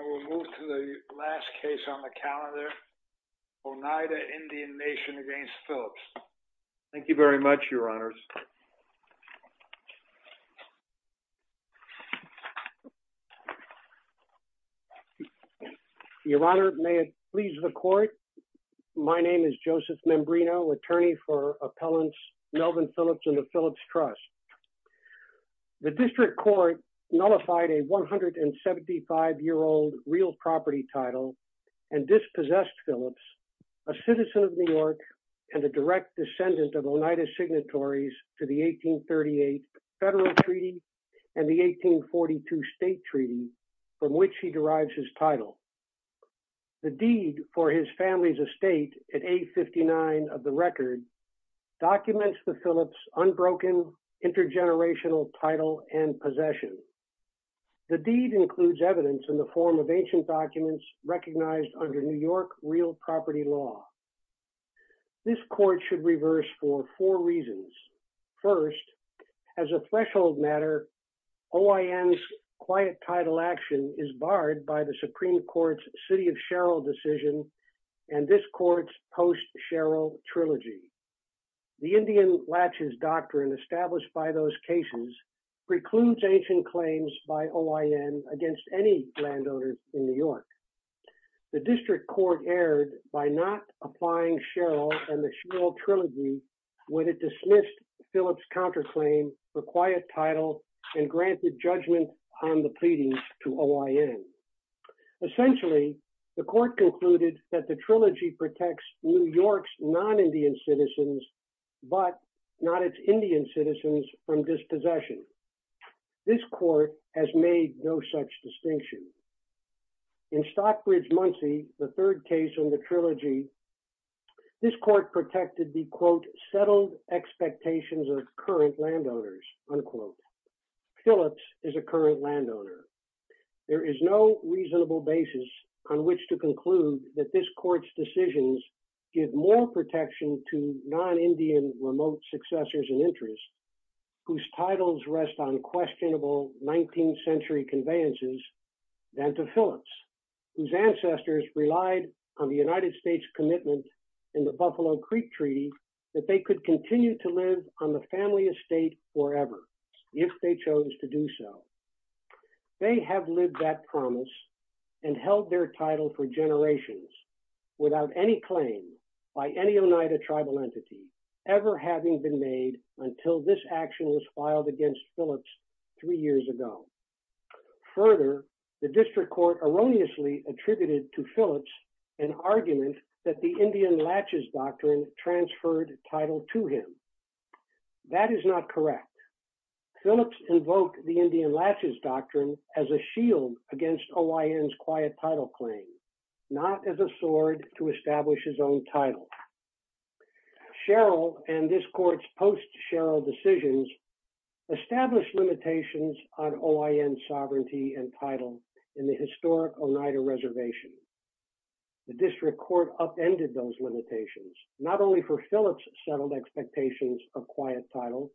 I will move to the last case on the calendar, Oneida Indian Nation v. Phillips. Thank you very much, your honors. Your honor, may it please the court, my name is Joseph Membrino, attorney for appellants Melvin Phillips and the Phillips Trust. The district court nullified a 175-year-old real property title and dispossessed Phillips, a citizen of New York and a direct descendant of Oneida's signatories to the 1838 federal treaty and the 1842 state treaty from which he derives his title. The deed for his family's estate at 859 of the record documents the Phillips' unbroken intergenerational title and possession. The deed includes evidence in the form of ancient documents recognized under New York real property law. This court should reverse for four reasons. First, as a threshold matter, OIN's quiet title action is barred by the Supreme Court's City of Sherrill decision and this court's Post-Sherrill Trilogy. The Indian Latches Doctrine established by those cases precludes ancient claims by OIN The district court erred by not applying Sherrill and the Sherrill Trilogy when it dismissed Phillips' counterclaim for quiet title and granted judgment on the pleadings to OIN. Essentially, the court concluded that the trilogy protects New York's non-Indian citizens but not its Indian citizens from dispossession. This court has made no such distinction. In Stockbridge-Munsee, the third case in the trilogy, this court protected the, quote, settled expectations of current landowners, unquote. Phillips is a current landowner. There is no reasonable basis on which to conclude that this court's decisions give more protection to non-Indian remote successors and interests whose titles rest on questionable 19th century conveyances than to Phillips, whose ancestors relied on the United States commitment in the Buffalo Creek Treaty that they could continue to live on the family estate forever if they chose to do so. They have lived that promise and held their title for generations without any claim by any Oneida tribal entity ever having been made until this action was filed against Phillips three years ago. Further, the district court erroneously attributed to Phillips an argument that the Indian Latches Doctrine transferred title to him. That is not correct. Phillips invoked the Indian Latches Doctrine as a shield against OIN's quiet title claim, not as a sword to establish his own title. Sherrill and this court's post-Sherrill decisions established limitations on OIN sovereignty and title in the historic Oneida reservation. The district court upended those limitations, not only for Phillips' settled expectations of quiet title,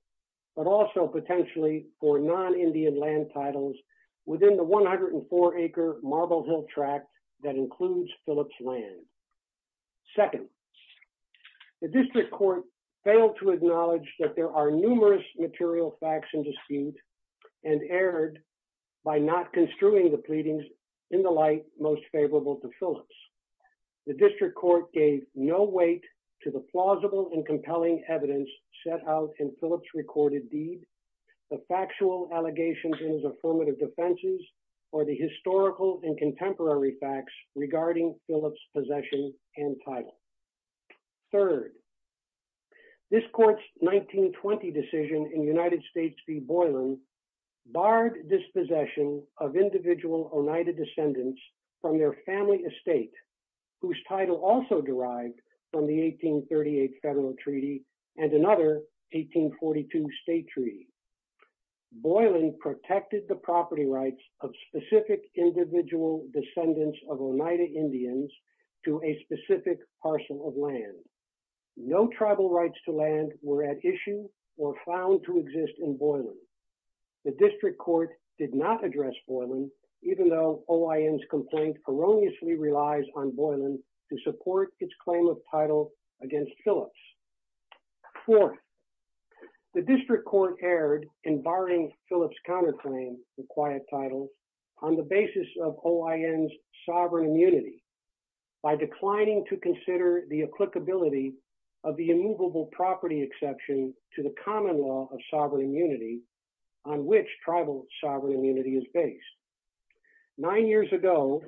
but also potentially for non-Indian land titles within the 104-acre Marble Hill tract that includes Phillips' land. Second, the district court failed to acknowledge that there are numerous material facts in dispute and erred by not construing the pleadings in the light most favorable to Phillips. The district court gave no weight to the plausible and compelling evidence set out in Phillips' recorded deed, the factual allegations in his affirmative defenses, or the historical and contemporary facts regarding Phillips' possession and title. Third, this court's 1920 decision in United States v. Boylan barred dispossession of individual Oneida descendants from their family estate, whose title also derived from the 1838 federal treaty and another 1842 state treaty. Boylan protected the property rights of specific individual descendants of Oneida Indians to a specific parcel of land. No tribal rights to land were at issue or found to exist in Boylan. The district court did not address Boylan, even though OIN's complaint erroneously relies on Boylan to support its claim of title against Phillips. Fourth, the district court erred in barring Phillips' counterclaim to quiet title on the basis of OIN's sovereign immunity by declining to consider the applicability of the immovable property exception to the common law of sovereign immunity on which tribal sovereign immunity is based. Nine years ago,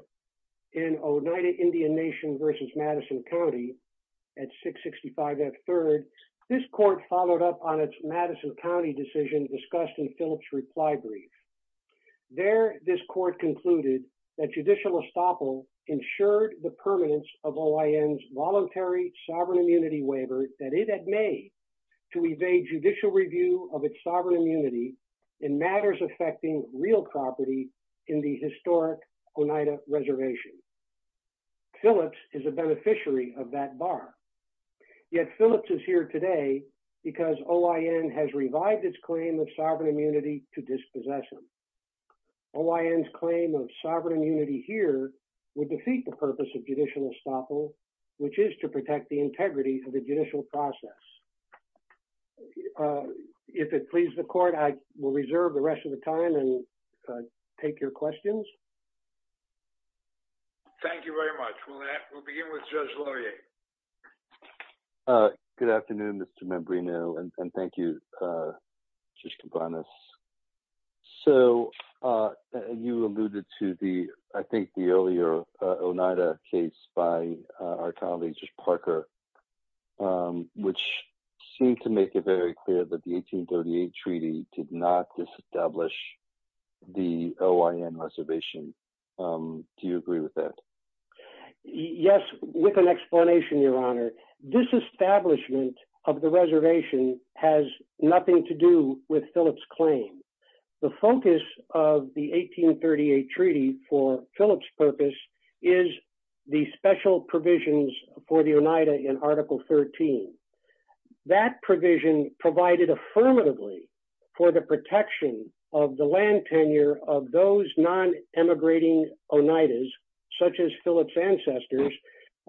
in Oneida Indian Nation v. Madison County at 665 F. Third, this court followed up on its Madison County decision discussed in Phillips' reply brief. There, this court concluded that judicial estoppel ensured the permanence of OIN's voluntary sovereign immunity waiver that it had made to evade judicial review of its sovereign property in the historic Oneida reservation. Phillips is a beneficiary of that bar. Yet Phillips is here today because OIN has revived its claim of sovereign immunity to dispossess him. OIN's claim of sovereign immunity here would defeat the purpose of judicial estoppel, which is to protect the integrity of the judicial process. If it pleases the court, I will reserve the rest of the time and take your questions. Thank you very much. We'll begin with Judge Laurier. Good afternoon, Mr. Membrino, and thank you, Judge Cabanas. So you alluded to the, I think, the earlier Oneida case by our colleague, Judge Parker, um, which seemed to make it very clear that the 1838 Treaty did not disestablish the OIN reservation. Um, do you agree with that? Yes, with an explanation, Your Honor. This establishment of the reservation has nothing to do with Phillips' claim. The focus of the 1838 Treaty for Phillips' purpose is the special provisions for the Oneida in Article 13. That provision provided affirmatively for the protection of the land tenure of those non-emigrating Oneidas, such as Phillips' ancestors,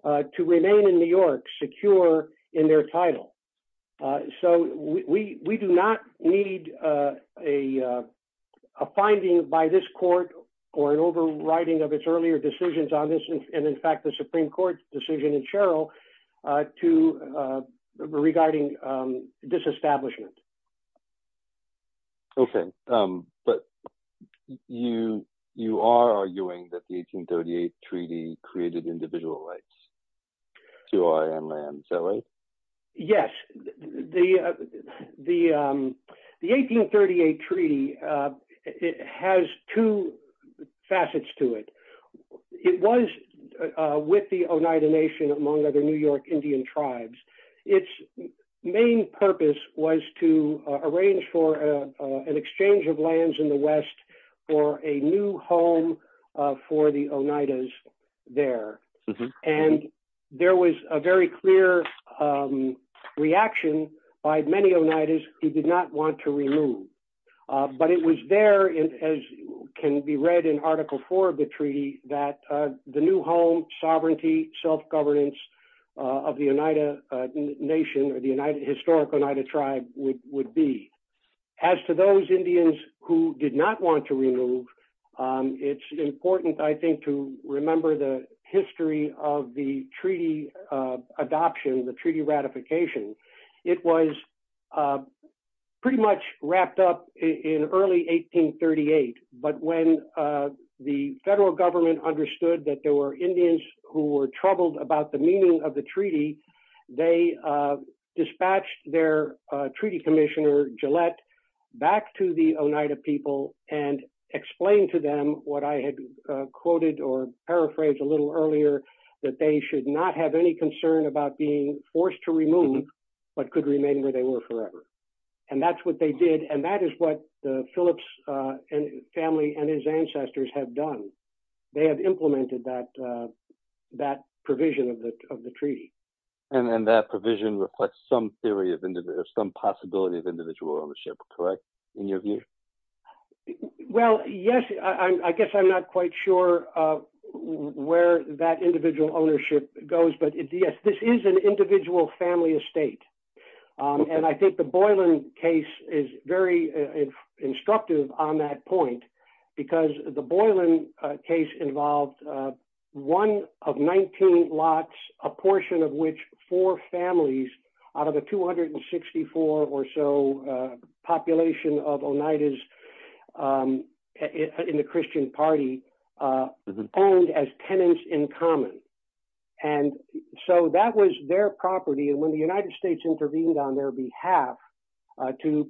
to remain in New York secure in their title. So we do not need a finding by this court or an overriding of its earlier decisions on this, and in fact, the Supreme Court's decision in Sherrill to, regarding disestablishment. Okay. But you are arguing that the 1838 Treaty created individual rights to OIN land, is that right? Yes, the 1838 Treaty has two facets to it. It was with the Oneida Nation, among other New York Indian tribes. Its main purpose was to arrange for an exchange of lands in the West for a new home for the Oneidas there. And there was a very clear reaction by many Oneidas who did not want to remove. But it was there, as can be read in Article 4 of the Treaty, that the new home, sovereignty, self-governance of the Oneida Nation or the historic Oneida tribe would be. As to those Indians who did not want to remove, it's important, I think, to remember the history of the Treaty adoption, the Treaty ratification. It was pretty much wrapped up in early 1838. But when the federal government understood that there were Indians who were troubled about the meaning of the Treaty, they dispatched their Treaty Commissioner Gillette back to the Oneida people and explained to them what I had quoted or paraphrased a little earlier, that they should not have any concern about being forced to remove, but could remain where they were forever. And that's what they did. And that is what the Phillips family and his ancestors have done. They have implemented that provision of the Treaty. And that provision reflects some theory of some possibility of individual ownership, correct? In your view? Well, yes, I guess I'm not quite sure where that individual ownership goes. But yes, this is an individual family estate. And I think the Boylan case is very instructive on that point, because the Boylan case involved one of 19 lots, a portion of which four families out of the 264 or so population of Oneidas in the Christian Party owned as tenants in common. And so that was their property. And when the United States intervened on their behalf to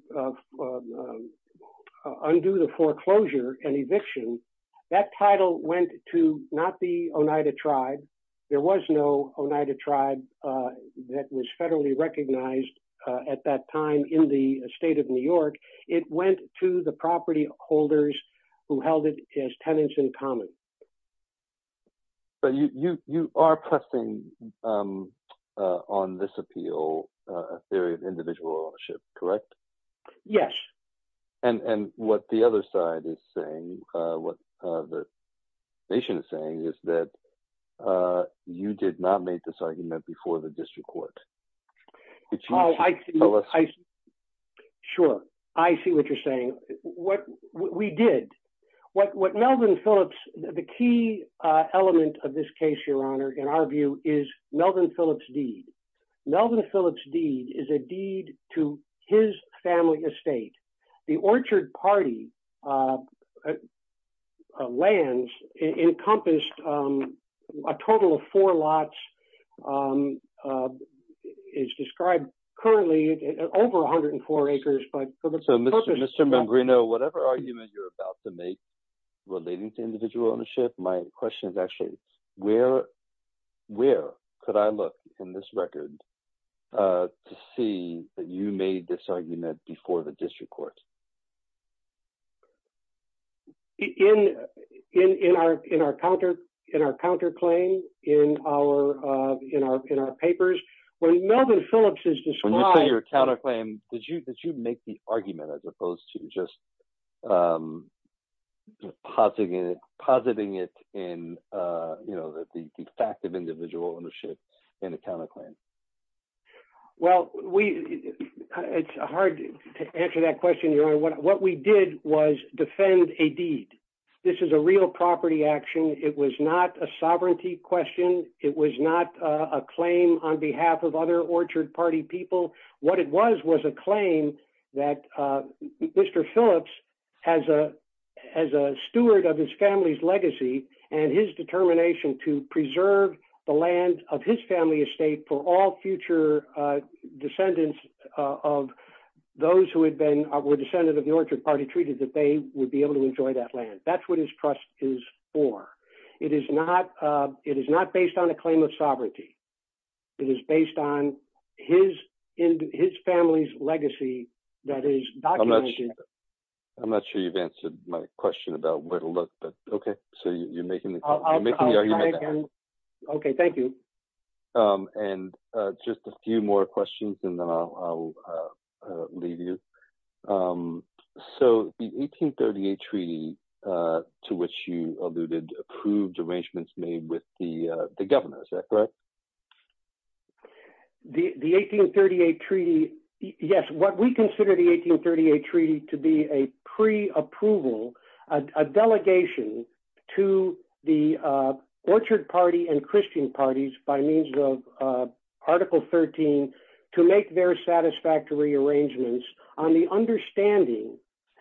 undo the foreclosure and eviction, that title went to not the Oneida tribe. There was no Oneida tribe that was federally recognized at that time in the state of New York. It went to the property holders who held it as tenants in common. But you are pressing on this appeal, a theory of individual ownership, correct? Yes. And what the other side is saying, what the nation is saying is that you did not make this argument before the district court. Sure, I see what you're saying. We did. What Melvin Phillips, the key element of this case, Your Honor, in our view is Melvin Phillips' deed. Melvin Phillips' deed is a deed to his family estate. The Orchard Party lands encompassed a total of four lots. It's described currently at over 104 acres. Mr. Mambrino, whatever argument you're about to make relating to individual ownership, my question is actually, where could I look in this record to see that you made this argument before the district court? In our counterclaim, in our papers, when Melvin Phillips is described- When you say your counterclaim, did you make the argument as opposed to just depositing it in the fact of individual ownership in a counterclaim? Well, it's hard to answer that question, Your Honor. What we did was defend a deed. This is a real property action. It was not a sovereignty question. It was not a claim on behalf of other Orchard Party people. What it was was a claim that Mr. Phillips, as a steward of his family's legacy and his determination to preserve the land of his family estate for all future descendants of those who were descendants of the Orchard Party, treated that they would be able to enjoy that land. That's what his trust is for. It is not based on a claim of sovereignty. It is based on his family's legacy that is documented- I'm not sure you've answered my question about where to look, but okay. So you're making the argument there. Okay, thank you. And just a few more questions and then I'll leave you. So the 1838 treaty to which you alluded approved arrangements made with the governor. Is that correct? Yes, what we consider the 1838 treaty to be a pre-approval, a delegation to the Orchard Party and Christian parties by means of Article 13 to make their satisfactory arrangements on the understanding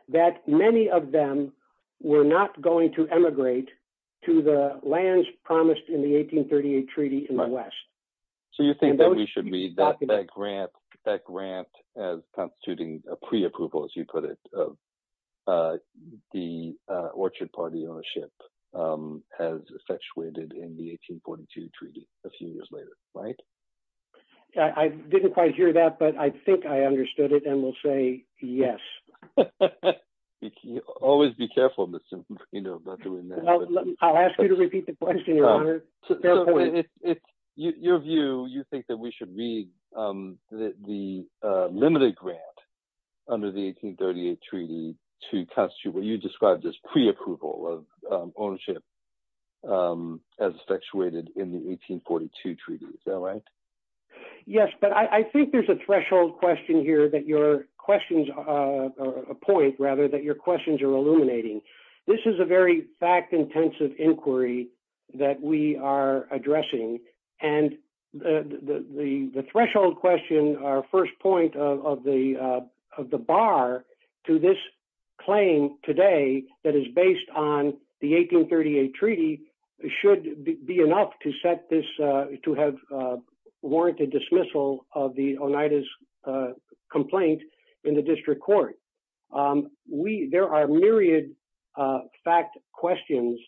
that many of them were not going to emigrate to the lands promised in the 1838 treaty in the West. So you think that we should read that grant as constituting a pre-approval, as you put it, of the Orchard Party ownership as effectuated in the 1842 treaty a few years later, right? I didn't quite hear that, but I think I understood it and will say yes. You can always be careful, you know, about doing that. I'll ask you to repeat the question, your honor. Your view, you think that we should read the limited grant under the 1838 treaty to constitute what you described as pre-approval of ownership as effectuated in the 1842 treaty, is that right? Yes, but I think there's a threshold question here that your questions, or a point rather, that your questions are illuminating. This is a very fact-intensive inquiry that we are addressing, and the threshold question, our first point of the bar to this claim today that is based on the 1838 treaty should be enough to set this, to have warranted dismissal of the Oneidas complaint in the district court. There are myriad fact questions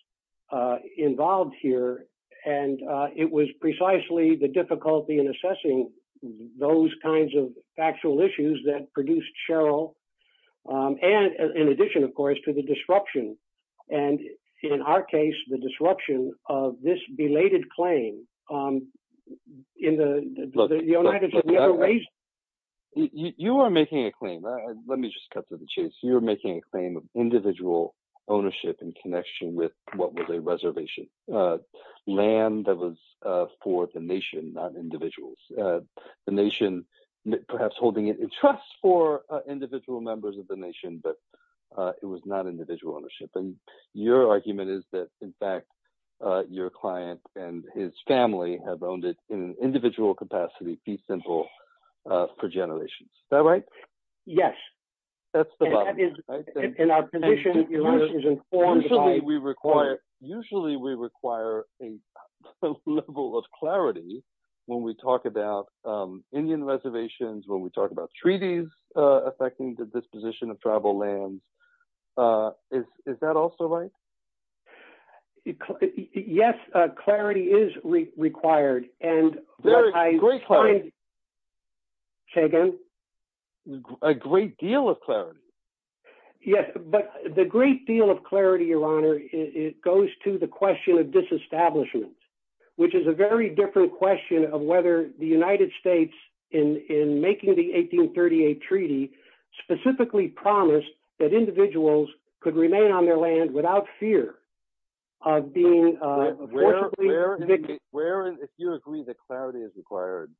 involved here, and it was precisely the difficulty in assessing those kinds of factual issues that produced Cheryl, and in addition, of course, to the disruption, and in our case, the disruption of this belated claim in the United States. You are making a claim, let me just cut to the chase, you're making a claim of individual ownership in connection with what was a reservation, land that was for the nation, not individuals. The nation, perhaps holding it in trust for individual members of the nation, but it was not individual ownership, and your argument is that, in fact, your client and his family have owned it in an individual capacity, be simple, for generations. Is that right? Yes. That's the bottom, right? And our position is informed by... Usually we require a level of clarity when we talk about Indian reservations, when we talk about treaties affecting the disposition of tribal lands. Is that also right? Yes, clarity is required, and what I find... Very, great clarity. Say again? A great deal of clarity. Yes, but the great deal of clarity, Your Honor, it goes to the question of disestablishment, which is a very different question of whether the United States, in making the 1838 Treaty, specifically promised that individuals could remain on their land without fear of being... If you agree that clarity is required,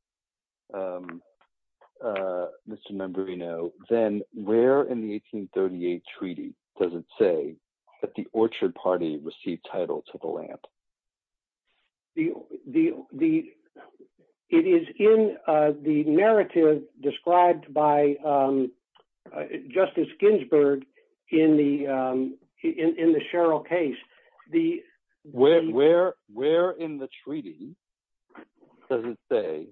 Mr. Mambrino, then where in the 1838 Treaty does it say that the Orchard Party received title to the land? It is in the narrative described by Justice Ginsburg in the Sherrill case. Where in the Treaty does it say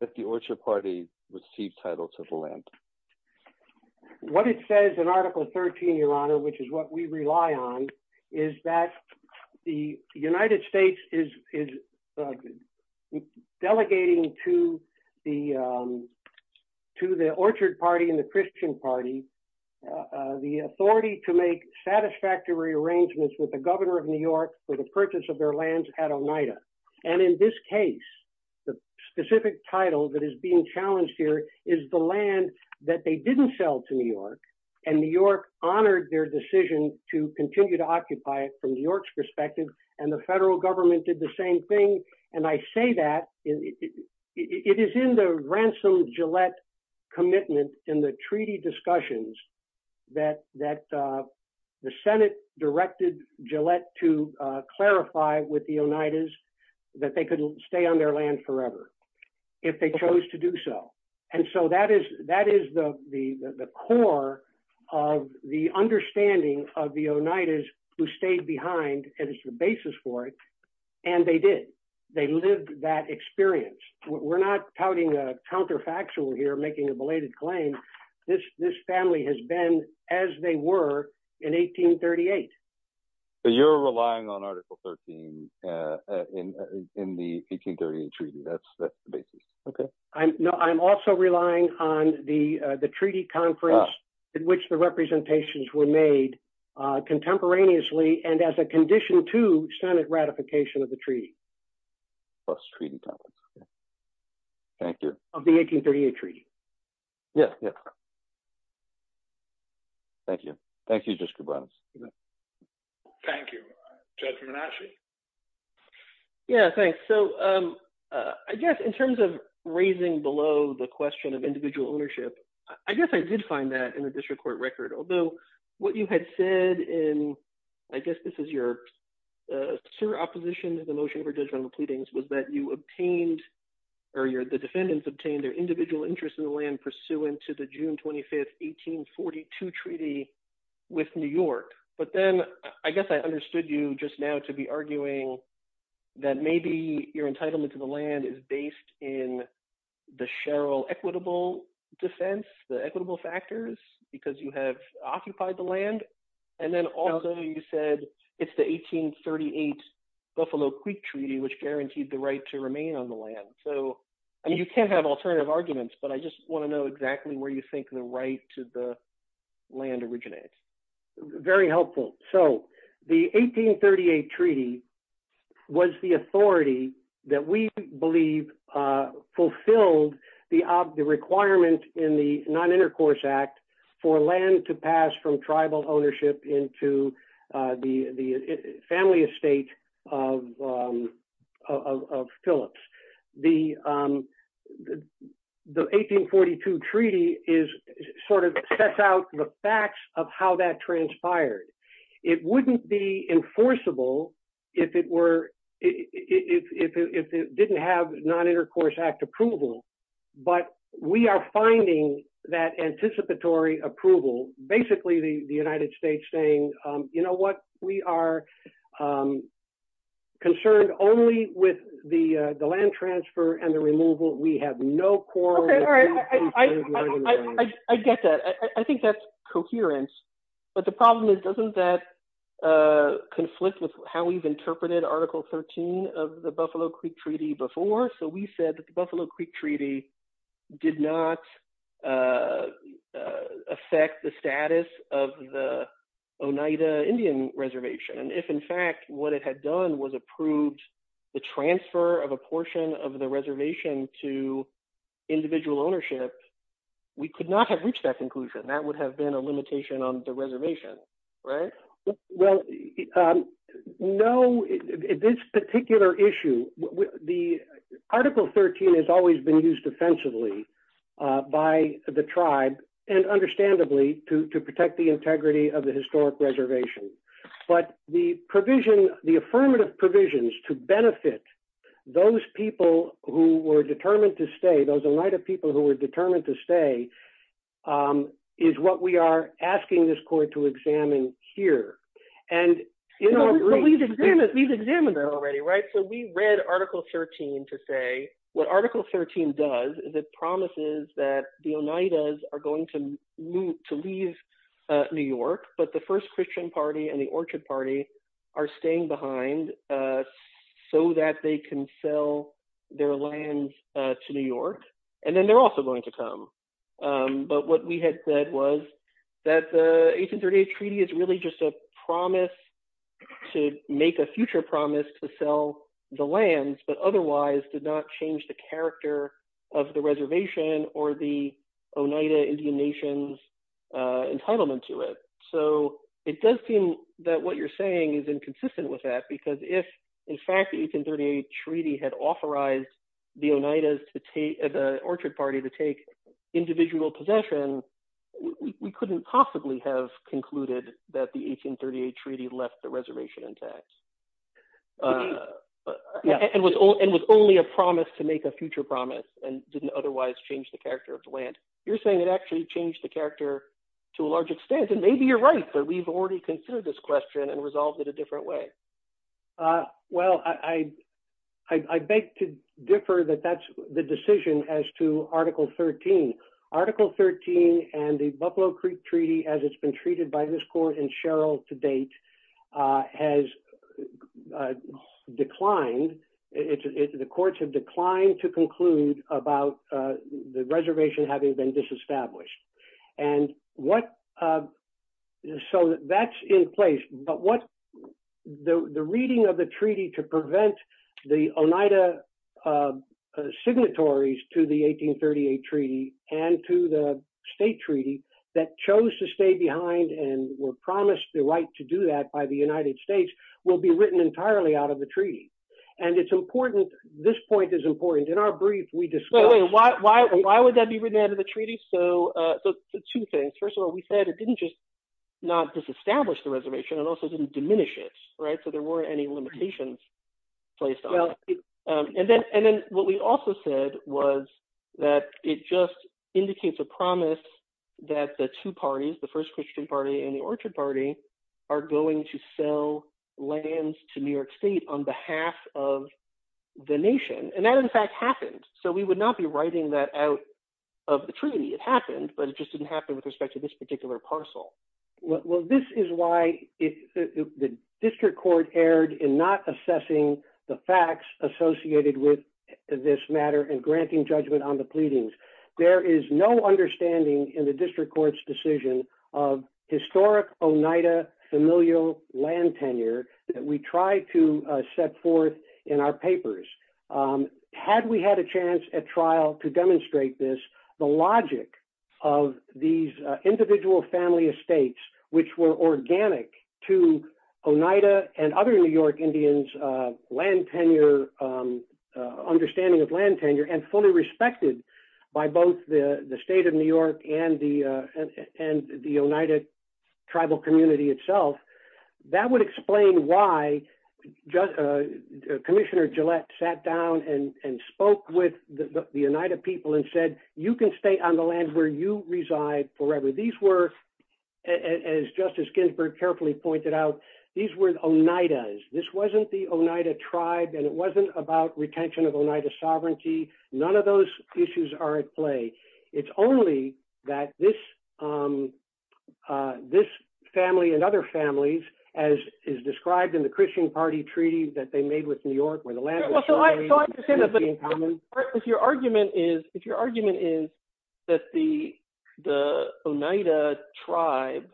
that the Orchard Party received title to the land? What it says in Article 13, Your Honor, which is what we rely on, is that the United States is delegating to the Orchard Party and the Christian Party the authority to make satisfactory arrangements with the governor of New York for the purchase of their lands at Oneida. And in this case, the specific title that is being challenged here is the land that they didn't sell to New York, and New York honored their decision to continue to occupy it from New York's perspective, and the federal government did the same thing. And I say that, it is in the Ransom Gillette commitment in the Treaty discussions that the Senate directed Gillette to clarify with the Oneidas that they could stay on their land forever, if they chose to do so. And so that is the core of the understanding of the Oneidas who stayed behind, and it's the basis for it, and they did. They lived that experience. We're not touting a counterfactual here, making a belated claim. This family has been as they were in 1838. You're relying on Article 13 in the 1838 Treaty, that's the basis, okay. No, I'm also relying on the Treaty conference in which the representations were made contemporaneously, and as a condition to Senate ratification of the Treaty. Plus Treaty conference, okay. Thank you. Of the 1838 Treaty. Yeah, yeah. Thank you. Thank you, Judge Koubranos. Thank you. Judge Menache. Yeah, thanks. So I guess in terms of raising below the question of individual ownership, I guess I did find that in the district court record. Although what you had said in, I guess this is your sure opposition to the motion for judgmental pleadings, was that you obtained, or the defendants obtained their individual interest in the land pursuant to the June 25, 1842 Treaty with New York. But then I guess I understood you just now to be arguing that maybe your entitlement to the land is based in the Sherrill equitable defense, the equitable factors, because you have occupied the land. And then also you said, it's the 1838 Buffalo Creek Treaty, which guaranteed the right to remain on the land. So, I mean, you can have alternative arguments, but I just want to know exactly where you think the right to the land originates. Very helpful. So the 1838 Treaty was the authority that we believe fulfilled the requirement in the Non-Intercourse Act for land to pass from sort of sets out the facts of how that transpired. It wouldn't be enforceable if it didn't have Non-Intercourse Act approval, but we are finding that anticipatory approval, basically the United States saying, you know what, we are concerned only with the land transfer and the removal. We have no quarrel. I get that. I think that's coherent. But the problem is, doesn't that conflict with how we've interpreted Article 13 of the Buffalo Creek Treaty before? So we said that the Buffalo Creek Treaty did not affect the status of the Oneida Indian Reservation. And if in fact, what it had done was approved the transfer of a portion of the reservation to individual ownership, we could not have reached that conclusion. That would have been a limitation on the reservation, right? Well, no, this particular issue, the Article 13 has always been used offensively by the tribe and understandably to protect the integrity of historic reservation. But the provision, the affirmative provisions to benefit those people who were determined to stay, those Oneida people who were determined to stay, is what we are asking this court to examine here. And we've examined that already, right? So we read Article 13 to say, what Article 13 does is it promises that the Oneidas are going to leave New York, but the First Christian Party and the Orchard Party are staying behind so that they can sell their lands to New York, and then they're also going to come. But what we had said was that the 1838 Treaty is really just a promise to make a future promise to sell the lands, but otherwise did not change the character of the reservation or the Oneida Indian Nations entitlement to it. So it does seem that what you're saying is inconsistent with that, because if, in fact, the 1838 Treaty had authorized the Oneidas to take, the Orchard Party to take individual possession, we couldn't possibly have concluded that the 1838 Treaty left the reservation intact. And was only a promise to make a future promise and didn't otherwise change the character to a large extent? And maybe you're right, but we've already considered this question and resolved it a different way. Well, I beg to differ that that's the decision as to Article 13. Article 13 and the Buffalo Creek Treaty, as it's been treated by this court and Sherrill to date, has declined. The courts have declined to conclude about the reservation having been disestablished. And what, so that's in place, but what the reading of the treaty to prevent the Oneida signatories to the 1838 Treaty and to the state treaty that chose to stay behind and were promised the right to do that by the United States will be written entirely out of the treaty. And it's important, this point is important, in our brief we discuss... Wait, why would that be written out of the treaty? So two things. First of all, we said it didn't just not disestablish the reservation, it also didn't diminish it, right? So there weren't any limitations placed on it. And then what we also said was that it just indicates a promise that the two parties, the First Christian Party and the Orchard Party, are going to sell lands to New York State on behalf of the nation. And that, in fact, happened. So we would not be writing that out of the treaty. It happened, but it just didn't happen with respect to this particular parcel. Well, this is why the district court erred in not assessing the facts associated with this matter and granting judgment on the pleadings. There is no understanding in the district court's decision of historic Oneida familial land tenure that we try to set forth in our papers. Had we had a chance at trial to demonstrate this, the logic of these individual family estates, which were organic to Oneida and other New York Indians' land tenure, understanding of land tenure, and fully the Oneida tribal community itself, that would explain why Commissioner Gillette sat down and spoke with the Oneida people and said, you can stay on the land where you reside forever. These were, as Justice Ginsburg carefully pointed out, these were Oneidas. This wasn't the Oneida tribe and it wasn't about retention of Oneida sovereignty. None of those issues are at play. It's only that this family and other families, as is described in the Christian Party treaty that they made with New York, where the land was... Well, so I understand that, but if your argument is that the Oneida tribe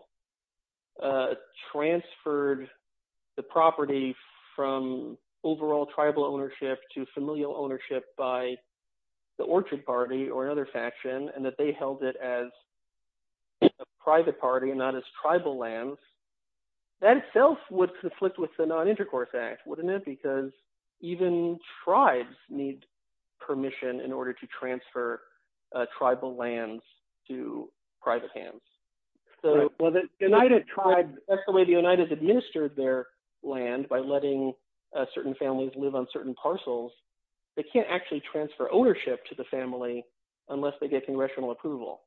transferred the property from overall tribal ownership to familial ownership by the Orchard Party or another faction, and that they held it as a private party and not as tribal lands, that itself would conflict with the Non-Intercourse Act, wouldn't it? Because even tribes need permission in order to transfer tribal lands to private hands. That's the way the Oneidas administered their land, by letting certain families live on certain land, and then they would have to transfer ownership to the family unless they get congressional approval.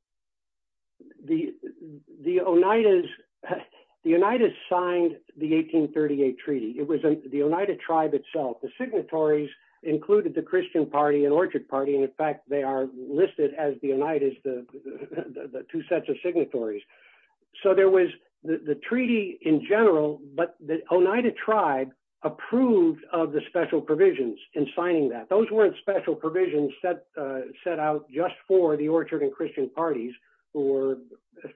The Oneidas signed the 1838 treaty. It was the Oneida tribe itself. The signatories included the Christian Party and Orchard Party, and in fact they are listed as the Oneidas, the two sets of signatories. So there was the treaty in general, but the Oneida tribe approved of the special provisions in signing that. Those weren't special provisions set out just for the Orchard and Christian Parties, who were,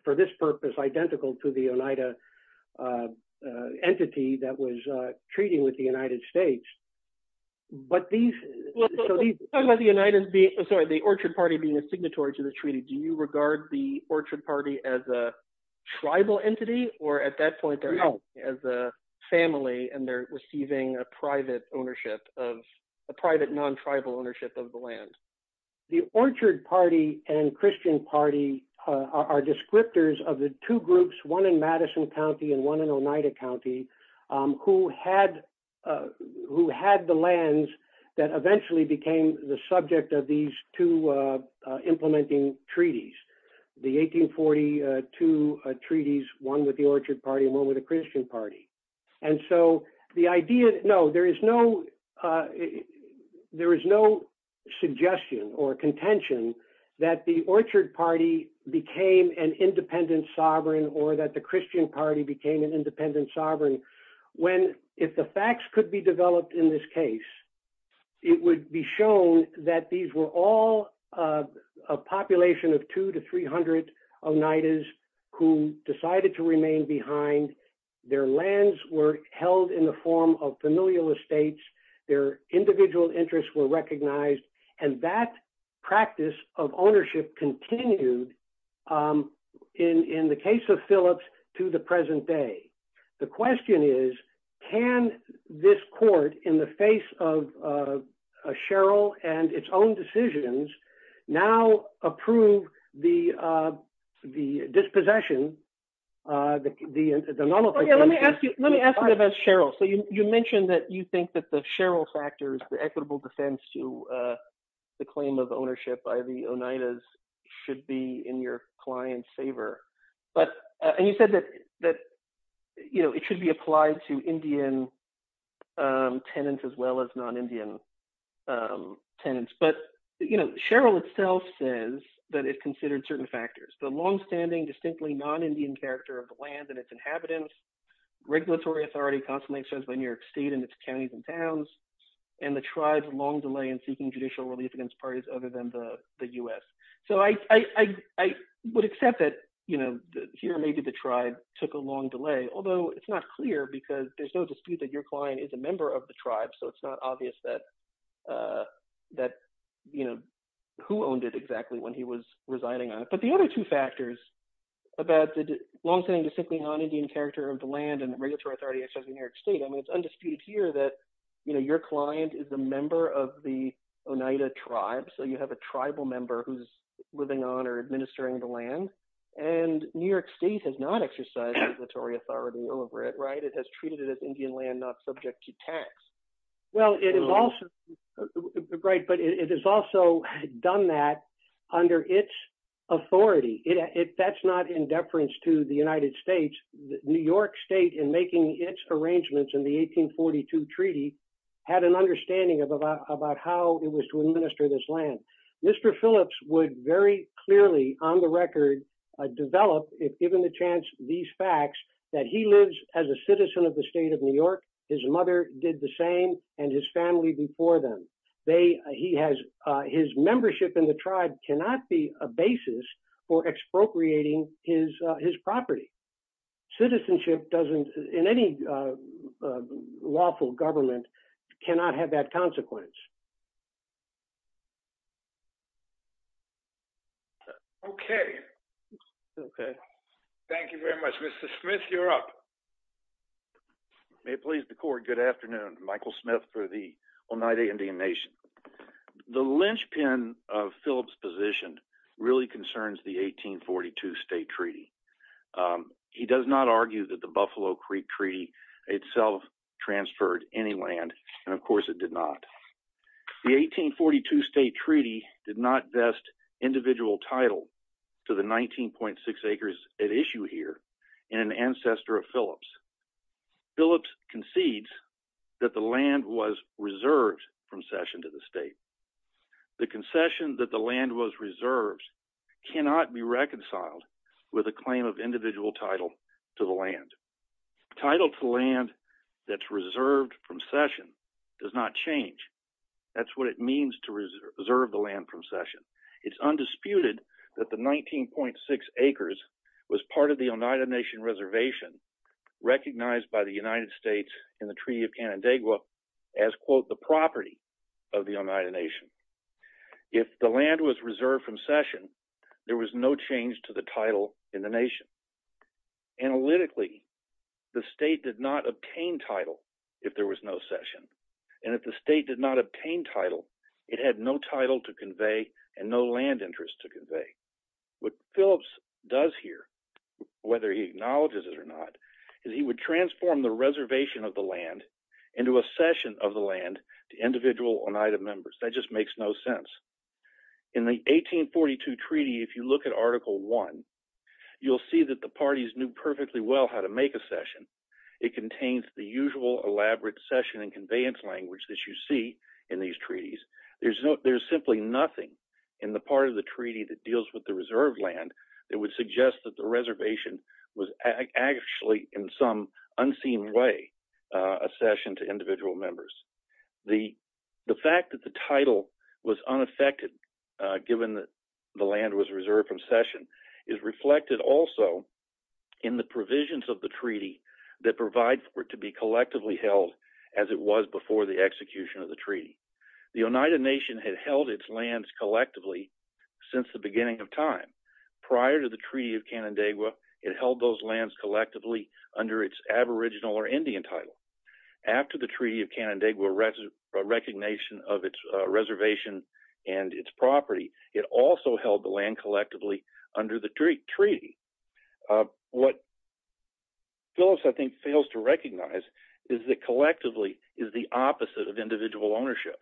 for this purpose, identical to the Oneida entity that was treating with the United States. But these... Talking about the Orchard Party being a signatory to the treaty, do you regard the Orchard Party as a tribal entity, or at that point, as a family and they're receiving a private ownership of, a private non-tribal ownership of the land? The Orchard Party and Christian Party are descriptors of the two groups, one in Madison County and one in Oneida County, who had the lands that eventually became the subject of these two implementing treaties. The 1842 treaties, one with the Orchard Party and one with the Christian Party. And so the idea... No, there is no suggestion or contention that the Orchard Party became an independent sovereign, or that the Christian Party became an independent sovereign, when, if the facts could be developed in this case, it would be shown that these were all a population of 200 to 300 Oneidas, who decided to remain behind. Their lands were held in the form of familial estates, their individual interests were recognized, and that practice of ownership continued, in the case of Phillips, to the present day. The question is, can this court, in the face of a Sherrill and its own decisions, now approve the dispossession? Let me ask you about Sherrill. So you mentioned that you think that the Sherrill factors, the equitable defense to the claim of ownership by the Oneidas should be in your client's favor. And you said that it should be applied to Indian tenants as well as non-Indian tenants. But Sherrill itself says that it considered certain factors, the long-standing, distinctly non-Indian character of the land and its inhabitants, regulatory authority constantly exercised by New York State and its counties and towns, and the tribe's long delay in seeking judicial relief against parties other than the U.S. So I would accept that, you know, here maybe the tribe took a long delay, although it's not clear because there's no dispute that your client is a member of the tribe, so it's not obvious that, you know, who owned it exactly when he was residing on it. But the other two factors about the long-standing distinctly non-Indian character of the land and regulatory authority exercised by New York State, I mean, it's undisputed here that, you know, your client is a member of the Oneida tribe, so you have a tribal member who's living on or administering the land, and New York State has not exercised regulatory authority over it, right? It has treated it as Indian land, not subject to tax. Well, it is also, right, but it has also done that under its authority. That's not in deference to the United States. New York State, in making its arrangements in the 1842 treaty, had an understanding of about how it was to administer this land. Mr. Phillips would very clearly, on the record, develop, if given the chance, these facts that he lives as a citizen of the state of New York, his mother did the same, and his family before them. They, he has, his membership in the tribe cannot be a basis for expropriating his property. Citizenship doesn't, in any lawful government, cannot have that consequence. Okay. Okay. Thank you very much. Mr. Smith, you're up. May it please the court, good afternoon. Michael Smith for the Oneida Indian Nation. The linchpin of Phillips' position really concerns the 1842 state treaty. He does not argue that the Buffalo Creek Treaty itself transferred any land, and of course it did not. The 1842 state treaty did not vest individual title to the 19.6 acres at issue here in an ancestor of Phillips. Phillips concedes that the land was reserved from Cession to the state. The concession that the land was reserved cannot be reconciled with a claim of individual title to the land. Title to land that's reserved from Cession does not change. That's what it means to reserve the land from Cession. It's undisputed that the 19.6 acres was part of the Oneida Nation reservation, recognized by the United States in the Treaty of Canandaigua as, quote, the property of the Oneida Nation. If the land was reserved from Cession, there was no change to the title in the nation. Analytically, the state did not obtain title if there was no Cession, and if the state did not obtain title, it had no title to convey and no land interest to convey. What Phillips does here, whether he acknowledges it or not, is he would transform the reservation of the land into a Cession of the land to individual Oneida members. That just makes no sense. In the 1842 treaty, if you look at Article I, you'll see that the parties knew perfectly well how to make a Cession. It contains the usual elaborate Cession and conveyance language that you see in these treaties. There's simply nothing in the part of the treaty that deals with the was actually, in some unseen way, a Cession to individual members. The fact that the title was unaffected given that the land was reserved from Cession is reflected also in the provisions of the treaty that provide for it to be collectively held as it was before the execution of the treaty. The Oneida Nation had held its lands collectively since the beginning of time. Prior to the Treaty of Canandaigua, it held those lands collectively under its aboriginal or Indian title. After the Treaty of Canandaigua recognition of its reservation and its property, it also held the land collectively under the treaty. What Phillips, I think, fails to recognize is that collectively is the opposite of individual ownership.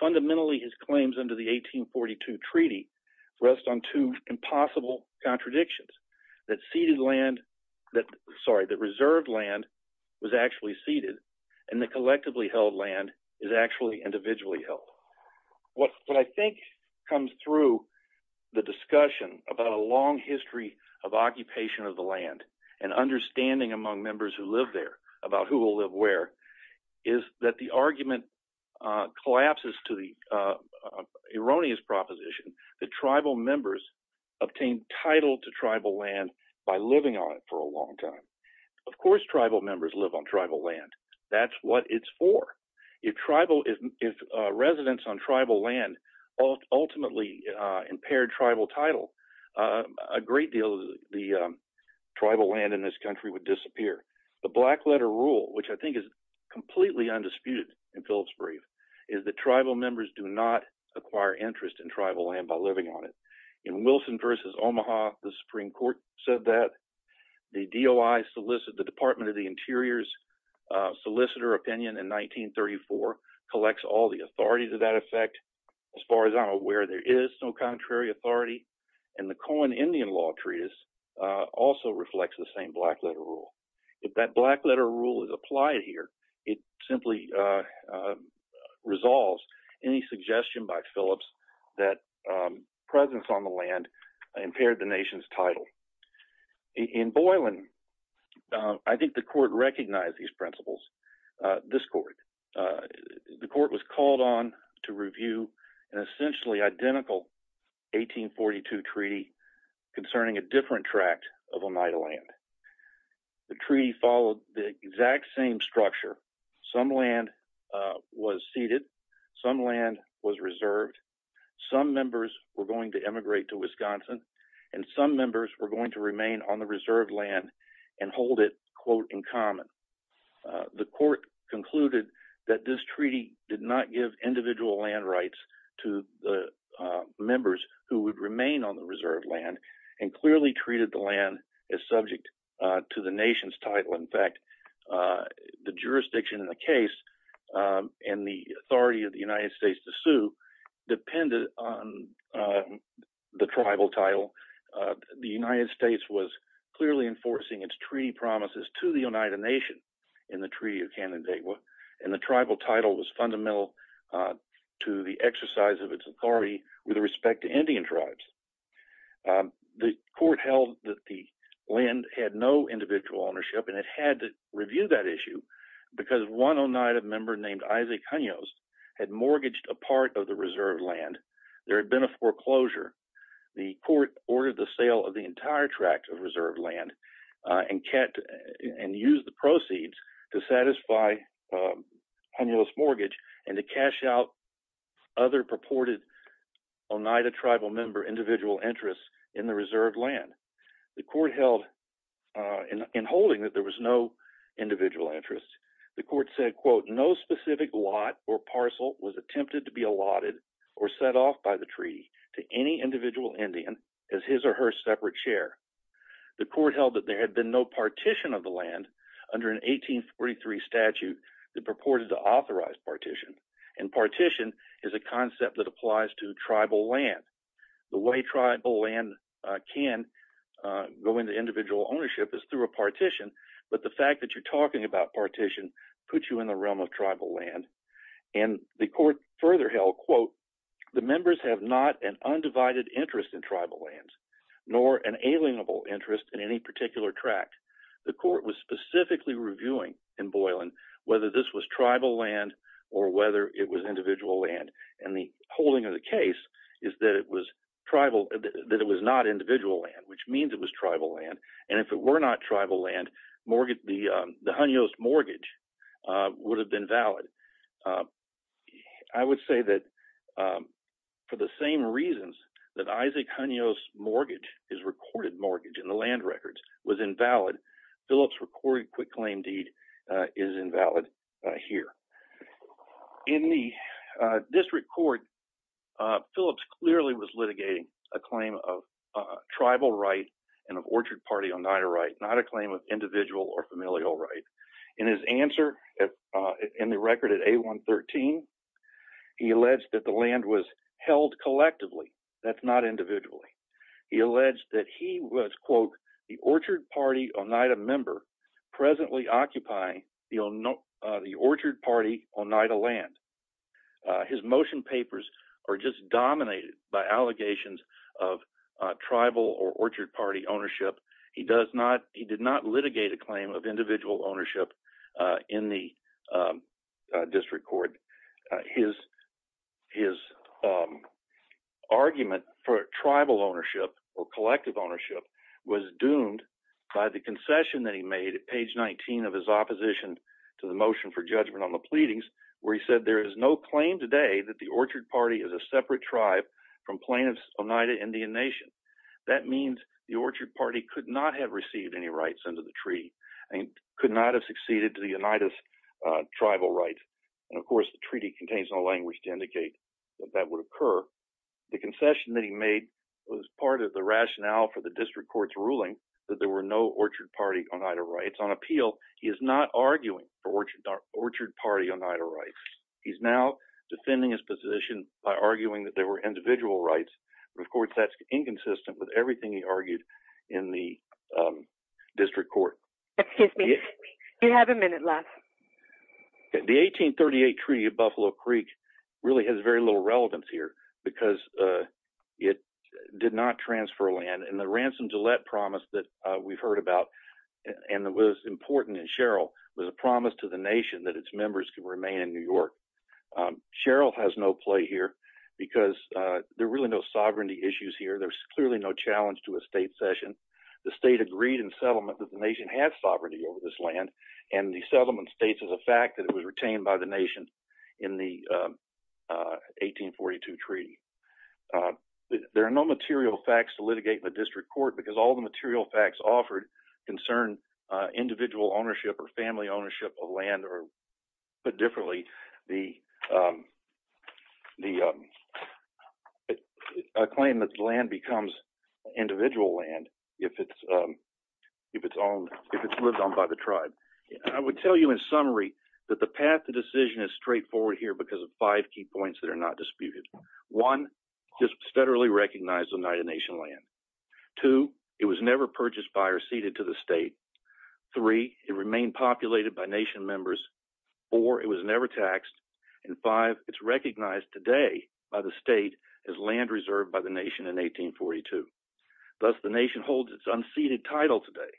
Fundamentally, his claims under the 1842 treaty rest on two impossible contradictions that reserved land was actually ceded and the collectively held land is actually individually held. What I think comes through the discussion about a long history of occupation of the land and understanding among members who live there about who will live where is that the argument collapses to the erroneous proposition that tribal members obtained title to tribal land by living on it for a long time. Of course, tribal members live on tribal land. That's what it's for. If residents on tribal land ultimately impaired tribal title, a great deal of the tribal land in this country would disappear. The black letter rule, which I think is completely undisputed in Phillips' brief, is that tribal members do not acquire interest in tribal land by living on it. In Wilson v. Omaha, the Supreme Court said that. The DOI solicit, the Department of the Interior's solicitor opinion in 1934 collects all the authorities of that effect. As far as I'm aware, there is no contrary authority. And the Cohen Indian Law Treatise also reflects the same black letter rule. If that black letter rule is applied here, it simply resolves any suggestion by Phillips that presence on the land impaired the nation's title. In Boylan, I think the court recognized these principles. This court. The court was called on to review an essentially identical 1842 treaty concerning a different tract of Oneida land. The treaty followed the exact same structure. Some land was ceded. Some land was reserved. Some members were going to emigrate to Wisconsin. And some members were going to remain on the reserved land and hold it, quote, in common. The court concluded that this treaty did not give individual land rights to the members who would remain on the reserved land and clearly treated the land as subject to the nation's title. In fact, the jurisdiction in the case and the authority of the United States to sue depended on the tribal title. The United States was clearly enforcing its treaty promises to the Oneida Nation in the Treaty of Canandaigua, and the tribal title was fundamental to the exercise of its authority with respect to Indian tribes. The court held that the land had no individual ownership, and it had to review that issue because one Oneida member named Isaac Conyos had mortgaged a part of the reserved land. There had been a foreclosure. The court ordered the sale of the entire tract of reserved land and used the proceeds to satisfy Conyos' mortgage and to cash out other purported Oneida tribal member individual interests in the reserved land. The court held in holding that there was no individual interest. The court said, quote, no specific lot or parcel was attempted to be allotted or set off by the treaty to any individual Indian as his or her separate share. The court held that there had been no partition of the land under an 1843 statute that purported to authorize partition, and partition is a concept that applies to tribal land. The way tribal land can go into individual ownership is through a partition, but the fact that you're talking about partition puts you in the realm of tribal land, and the court further held, quote, the members have not an undivided interest in tribal lands nor an alienable interest in any particular tract. The court was specifically reviewing in Boylan whether this was tribal land or whether it was individual land, and the holding of the case is that it was tribal, that it was not individual land, which means it was tribal land, and if it were not tribal land, the Honios mortgage would have been valid. I would say that for the same reasons that Isaac Honios mortgage, his recorded mortgage in the land records, was invalid, Phillips' recorded quick claim deed is invalid here. In this record, Phillips clearly was litigating a claim of tribal right and of Orchard Party Oneida right, not a claim of individual or familial right. In his answer in the record at A113, he alleged that the land was held collectively, that's not individually. He alleged that he was, quote, the Orchard Party Oneida member presently occupying the Orchard Party Oneida land. His motion papers are just dominated by allegations of tribal or Orchard Party ownership. He did not litigate a claim of individual ownership in the district court. His argument for tribal ownership or collective ownership was doomed by the concession that he made at page 19 of his opposition to the motion for judgment on the pleadings where he said there is no claim today that the Orchard Party is a separate tribe from plaintiffs Oneida Indian Nation. That means the Orchard Party could not have received any rights under the treaty and could not have succeeded to the Oneida's tribal rights. And of course, the treaty contains no language to indicate that that would occur. The concession that he made was part of the rationale for the district court's ruling that there were no Orchard Party Oneida rights. On He's now defending his position by arguing that there were individual rights. Of course, that's inconsistent with everything he argued in the district court. Excuse me. You have a minute left. The 1838 Treaty of Buffalo Creek really has very little relevance here because it did not transfer land. And the Ransom Gillette promise that we've heard about and that was important in Sherrill was a promise to the nation that its members could remain in New York. Sherrill has no play here because there are really no sovereignty issues here. There's clearly no challenge to a state session. The state agreed in settlement that the nation had sovereignty over this land. And the settlement states as a fact that it was retained by the nation in the 1842 treaty. There are no material facts to litigate in the district court because all material facts offered concern individual ownership or family ownership of land or put differently the the claim that land becomes individual land if it's if it's owned if it's lived on by the tribe. I would tell you in summary that the path to decision is straightforward here because of five key points that are not disputed. One, just federally recognized Oneida Nation land. Two, it was never purchased by or ceded to the state. Three, it remained populated by nation members. Four, it was never taxed. And five, it's recognized today by the state as land reserved by the nation in 1842. Thus the nation holds its unceded title today.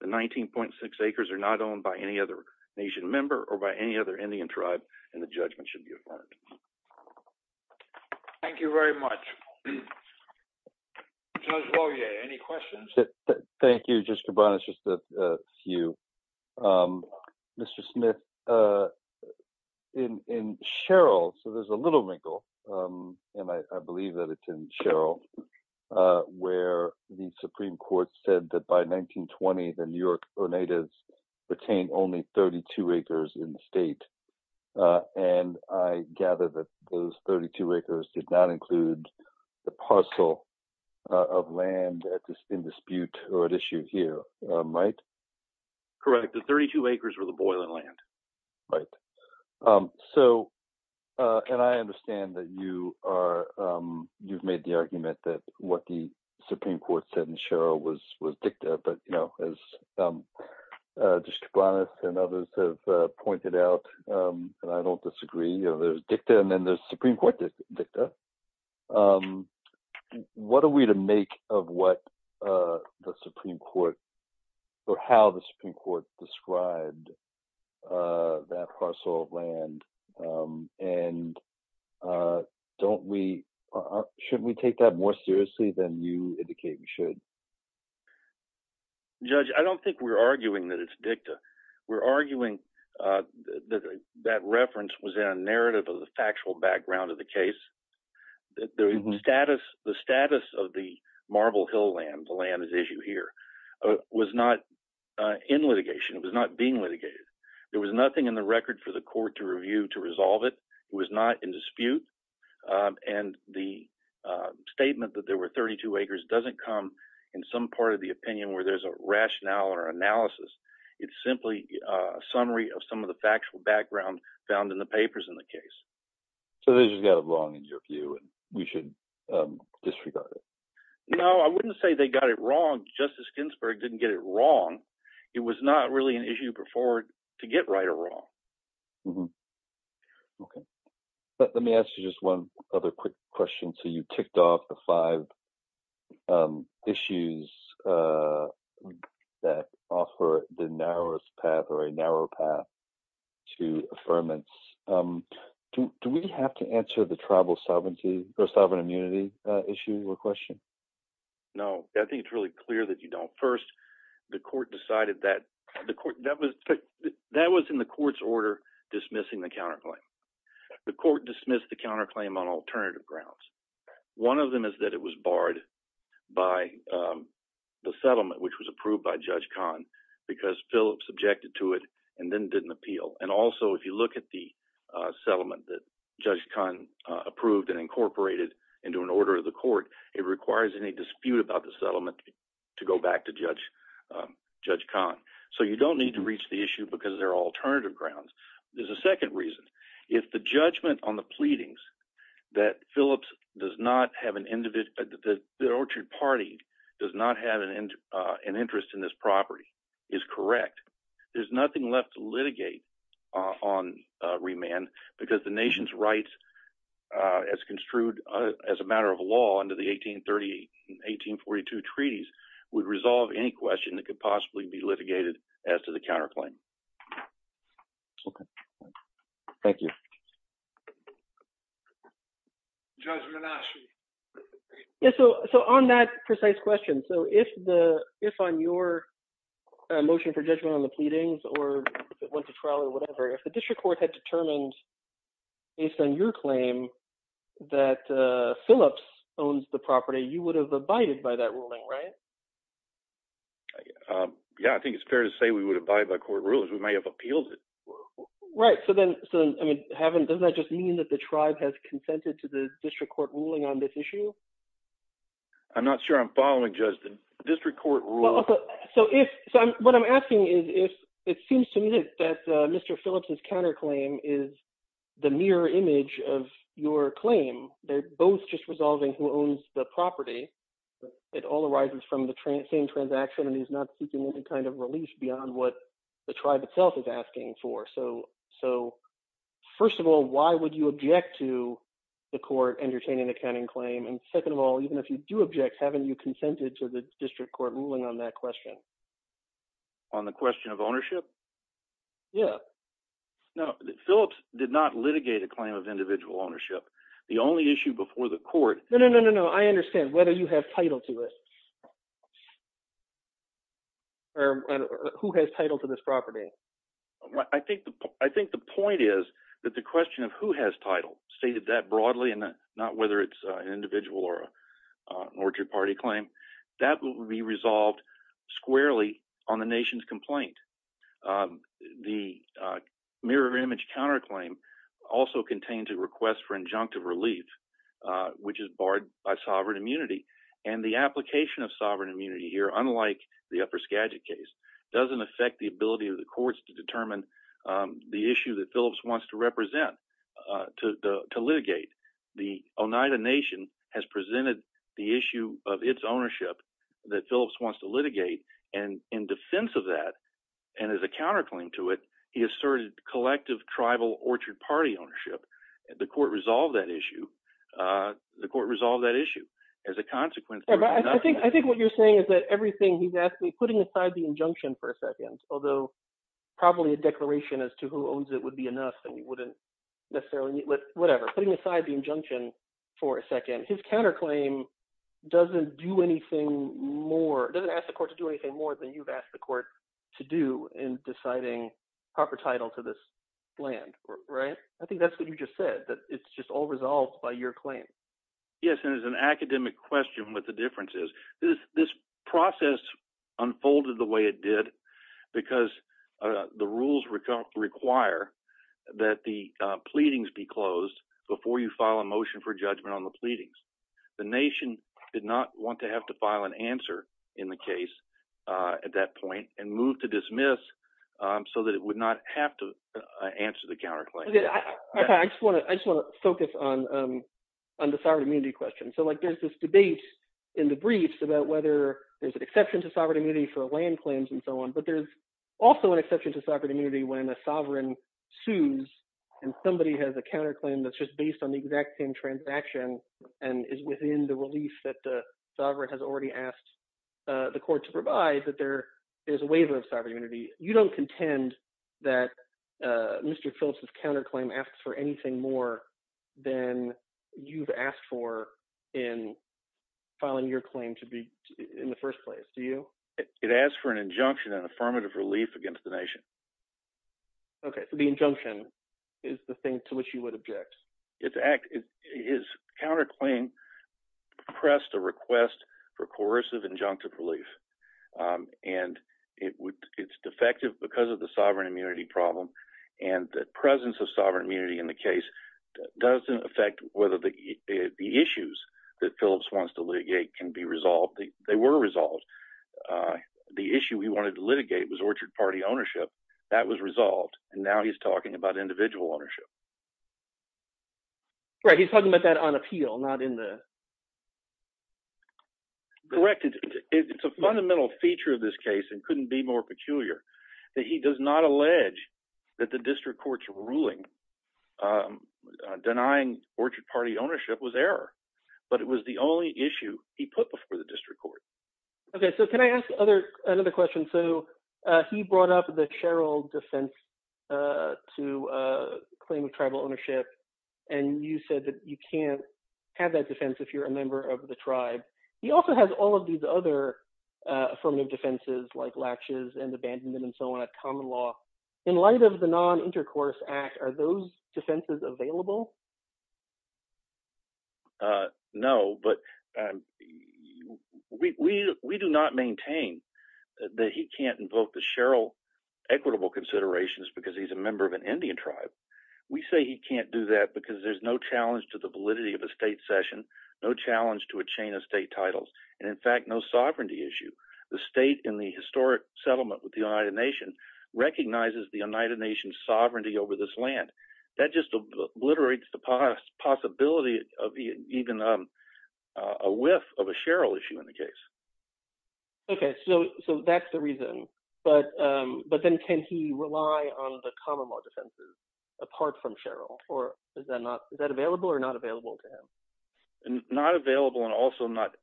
The 19.6 acres are not owned by any other nation member or by any other Indian tribe and the judgment should be affirmed. Thank you very much. Any questions? Thank you. Just a few. Mr. Smith, in Cheryl, so there's a little wrinkle, and I believe that it's in Cheryl, where the Supreme Court said that by 1920, the New York Oneidas retained only 32 acres in the state. And I gather that those 32 acres did not include the parcel of land at this in dispute or at issue here, right? Correct. The 32 acres were the boiling land. Right. So, and I understand that you are, you've made the argument that what the Supreme Court said in Justice Kibanis and others have pointed out, and I don't disagree, you know, there's dicta and then there's Supreme Court dicta. What are we to make of what the Supreme Court, or how the Supreme Court described that parcel of land? And don't we, shouldn't we take that more seriously than you indicate we should? Judge, I don't think we're arguing that it's dicta. We're arguing that reference was in a narrative of the factual background of the case. The status of the Marble Hill land, the land at issue here, was not in litigation. It was not being litigated. There was nothing in the record for the court to review to resolve it. It was not in dispute. And the statement that there were 32 acres doesn't come in some part of the opinion where there's a rationale or analysis. It's simply a summary of some of the factual background found in the papers in the case. So they just got it wrong in your view and we should disregard it? No, I wouldn't say they got it wrong. Justice Ginsburg didn't get it wrong. It was not really an issue before to get right or wrong. Okay. Let me ask you just one other quick question. So you ticked off the five issues that offer the narrowest path or a narrow path to affirmance. Do we have to answer the tribal sovereignty or sovereign immunity issue or question? No, I think it's really clear that you don't first. The court decided that. That was in the court's order dismissing the counterclaim. The court dismissed the counterclaim on alternative grounds. One of them is that it was barred by the settlement which was approved by Judge Kahn because Phillips objected to it and then didn't appeal. And also if you look at the settlement that Judge Kahn approved and incorporated into an order of the court, it requires any dispute about the settlement to go back to Judge Kahn. So you don't need to reach the issue because there are alternative grounds. There's a second reason. If the judgment on the pleadings that Phillips does not have an individual, the Orchard Party does not have an interest in this property is correct. There's rights as construed as a matter of law under the 1830, 1842 treaties would resolve any question that could possibly be litigated as to the counterclaim. Okay. Thank you. Judge Manassi. So on that precise question. So if the, if I'm your motion for judgment on the based on your claim that Phillips owns the property, you would have abided by that ruling, right? Yeah. I think it's fair to say we would abide by court rules. We may have appealed it. Right. So then, so, I mean, haven't, doesn't that just mean that the tribe has consented to the district court ruling on this issue? I'm not sure I'm following Judge. The district court rule. So if, so what I'm asking is if it seems to me that Mr. Phillips's counterclaim is the mirror image of your claim, they're both just resolving who owns the property, it all arises from the same transaction. And he's not seeking any kind of relief beyond what the tribe itself is asking for. So, so first of all, why would you object to the court entertaining accounting claim? And second of all, even if you do object, haven't you consented to the district court ruling on that question? On the question of ownership? Yeah. No, Phillips did not litigate a claim of individual ownership. The only issue before the court. No, no, no, no, no. I understand whether you have title to it. Or who has title to this property? I think, I think the point is that the question of who has title stated that broadly and not whether it's an individual or an orchard party claim, that will be resolved squarely on the nation's complaint. The mirror image counterclaim also contains a request for injunctive relief, which is barred by sovereign immunity. And the application of sovereign immunity here, unlike the Upper Skagit case, doesn't affect the ability of the courts to determine the issue that Phillips wants to represent, to litigate. The Oneida Nation has presented the issue of its ownership that Phillips wants to litigate, and in defense of that, and as a counterclaim to it, he asserted collective tribal orchard party ownership. The court resolved that issue. The court resolved that issue as a consequence. I think what you're saying is that everything he's asked me, putting aside the injunction for a second, although probably a declaration as to who owns it would be enough, and we wouldn't necessarily need, whatever, putting aside the injunction for a second, his counterclaim doesn't do anything more, doesn't ask the court to do anything more than you've asked the court to do in deciding proper title to this land, right? I think that's what you just said, that it's just all resolved by your claim. Yes, and as an academic question what the difference is, this process unfolded the way it did because the rules require that the pleadings be closed before you file a motion for judgment on the pleadings. The Nation did not want to have to file an answer in the case at that point and move to dismiss so that it would not have to answer the counterclaim. I just want to focus on the thyroid immunity question. So there's this debate in the briefs about whether there's an exception to sovereign immunity for land claims and so on, but there's also an exception to sovereign immunity when a sovereign sues and somebody has a counterclaim that's just based on the exact same transaction and is within the relief that the sovereign has already asked the court to provide, that there is a waiver of sovereign immunity. You don't contend that Mr. Phillips's counterclaim asks for anything more than you've asked for in filing your claim to be in the first place, do you? It asks for an injunction and affirmative relief against the Nation. Okay, so the injunction is the thing to which you would object. His counterclaim pressed a request for coercive injunctive relief and it's defective because of the sovereign immunity problem, and the presence of sovereign immunity in the case doesn't affect whether the issues that Phillips wants to litigate can be resolved. They were resolved. The issue he wanted to litigate was orchard party ownership. That was resolved, and now he's talking about individual ownership. Right, he's talking about that on appeal, not in the… Correct. It's a fundamental feature of this case and couldn't be more peculiar that he does not allege that the district court's ruling denying orchard party ownership was error, but it was the only issue he put before the district court. Okay, so can I ask another question? So he brought up the Cheryl defense to claim of tribal ownership, and you said that you can't have that defense if you're a member of the tribe. He also has all of these other affirmative defenses like latches and abandonment and so on at common law. In light of the non-intercourse act, are those defenses available? No, but we do not maintain that he can't invoke the Cheryl equitable considerations because he's a member of an Indian tribe. We say he can't do that because there's no challenge to the validity of a state session, no challenge to a chain of state titles, and in fact, no sovereignty issue. The state in the historic settlement with the United Nations recognizes the United Nations sovereignty over this land. That just obliterates the possibility of even a whiff of a Cheryl issue in the case. Okay, so that's the reason, but then can he rely on the common law defenses apart from Cheryl, or is that available or not available to him? Not available and also not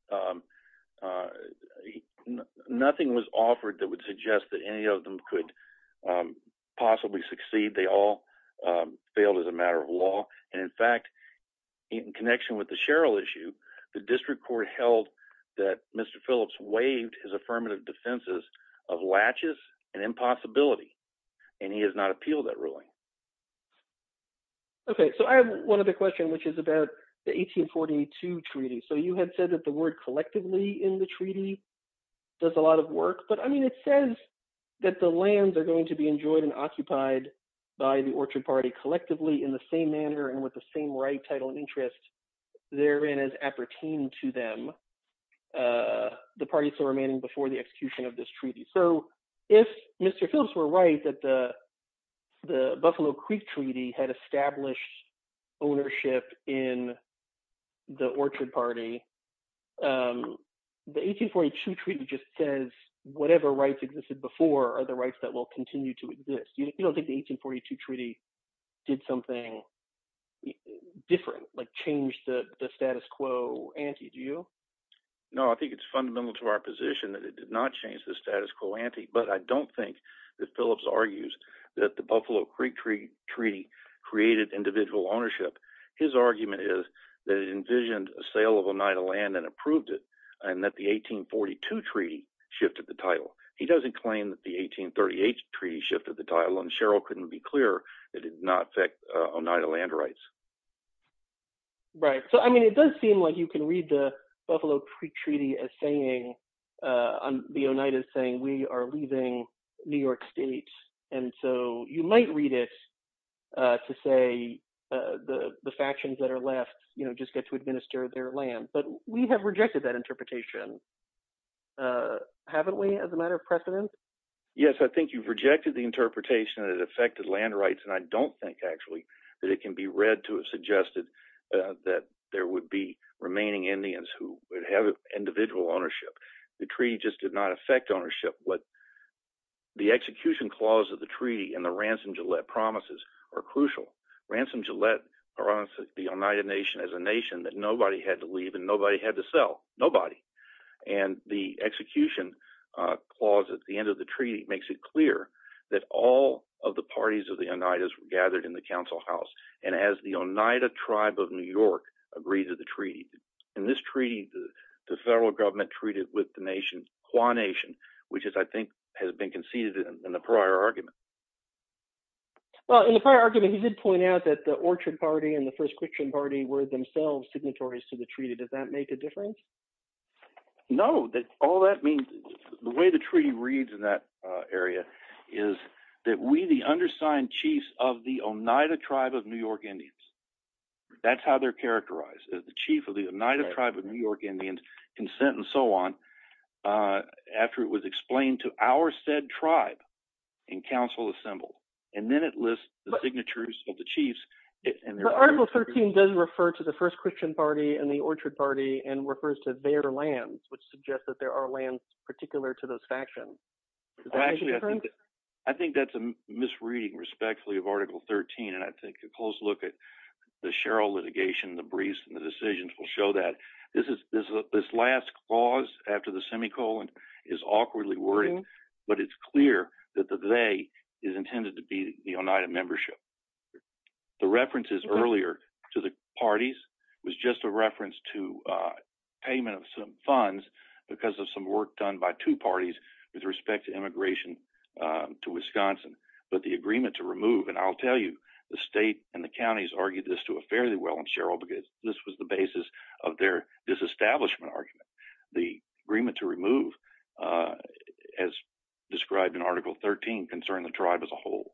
nothing was offered that would suggest that any of them could possibly succeed. They all failed as a matter of law, and in fact, in connection with the Cheryl issue, the district court held that Mr. Phillips waived his affirmative defenses of latches and impossibility, and he has not appealed that ruling. Okay, so I have one other question, which is about the 1842 treaty. So you had said that the word collectively in the treaty does a lot of work, but I mean it says that the lands are going to be enjoyed and occupied by the Orchard Party collectively in the same manner and with the same right, title, and interest therein as appertained to them, the parties remaining before the execution of this treaty. So if Mr. Phillips were right that the Buffalo Creek Treaty had established ownership in the Orchard Party, the 1842 treaty just says whatever rights existed before are the rights that will continue to exist. You don't think the 1842 treaty did something different, like change the status quo ante, do you? No, I think it's fundamental to our position that it did not change the status quo ante, but I don't think that Phillips argues that the Buffalo Creek Treaty created individual ownership. His argument is that it envisioned a sale of Oneida land and approved it, and that the 1842 treaty shifted the title. He doesn't claim that the 1838 treaty shifted the title, and Cheryl couldn't be clearer that it did not affect Oneida land rights. Right. So I mean, it does seem like you can read the Buffalo Creek Treaty as saying, on the Oneida thing, we are leaving New York State. And so you might read it to say the factions that are left just get to administer their land, but we have rejected that interpretation, haven't we, as a matter of precedence? Yes, I think you've rejected the interpretation that it affected land rights, and I don't think that it can be read to have suggested that there would be remaining Indians who would have individual ownership. The treaty just did not affect ownership. The execution clause of the treaty and the Ransom Gillette promises are crucial. Ransom Gillette promises the Oneida nation as a nation that nobody had to leave and nobody had to sell, nobody. And the execution clause at the end of the treaty makes it clear that all of the parties of the Oneidas were members of the council house, and as the Oneida tribe of New York agreed to the treaty. In this treaty, the federal government treated with the nation, Kwan Nation, which is, I think, has been conceded in the prior argument. Well, in the prior argument, he did point out that the Orchard Party and the First Christian Party were themselves signatories to the treaty. Does that make a difference? No. All that means, the way the treaty reads in that area is that we, the undersigned chiefs of the Oneida tribe of New York Indians, that's how they're characterized, the chief of the Oneida tribe of New York Indians, consent and so on, after it was explained to our said tribe and council assembled. And then it lists the signatures of the chiefs. But Article 13 does refer to the First Christian Party and the Orchard Party and refers to their lands, which suggests that there are lands particular to those factions. Does that make a difference? Yes, it does. It does, respectfully, of Article 13. And I take a close look at the Sherrill litigation, the briefs, and the decisions will show that. This last clause after the semicolon is awkwardly worded, but it's clear that the they is intended to be the Oneida membership. The references earlier to the parties was just a reference to payment of some funds because of some work done by two parties with respect to immigration to Wisconsin, but the agreement to remove, and I'll tell you, the state and the counties argued this to a fairly well in Sherrill because this was the basis of their disestablishment argument. The agreement to remove, as described in Article 13, concerned the tribe as a whole.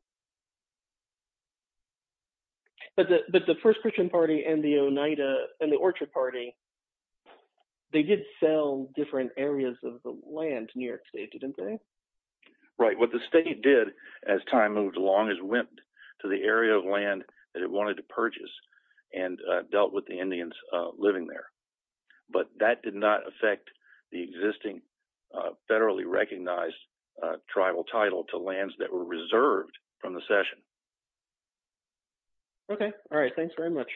But the First Christian Party and the Oneida and the Orchard Party, they did sell different areas of the land to New York State, didn't they? Right. What the state did as time moved along is went to the area of land that it wanted to purchase and dealt with the Indians living there. But that did not affect the existing federally recognized tribal title to lands that were reserved from the session. Okay. All right. Thanks very much.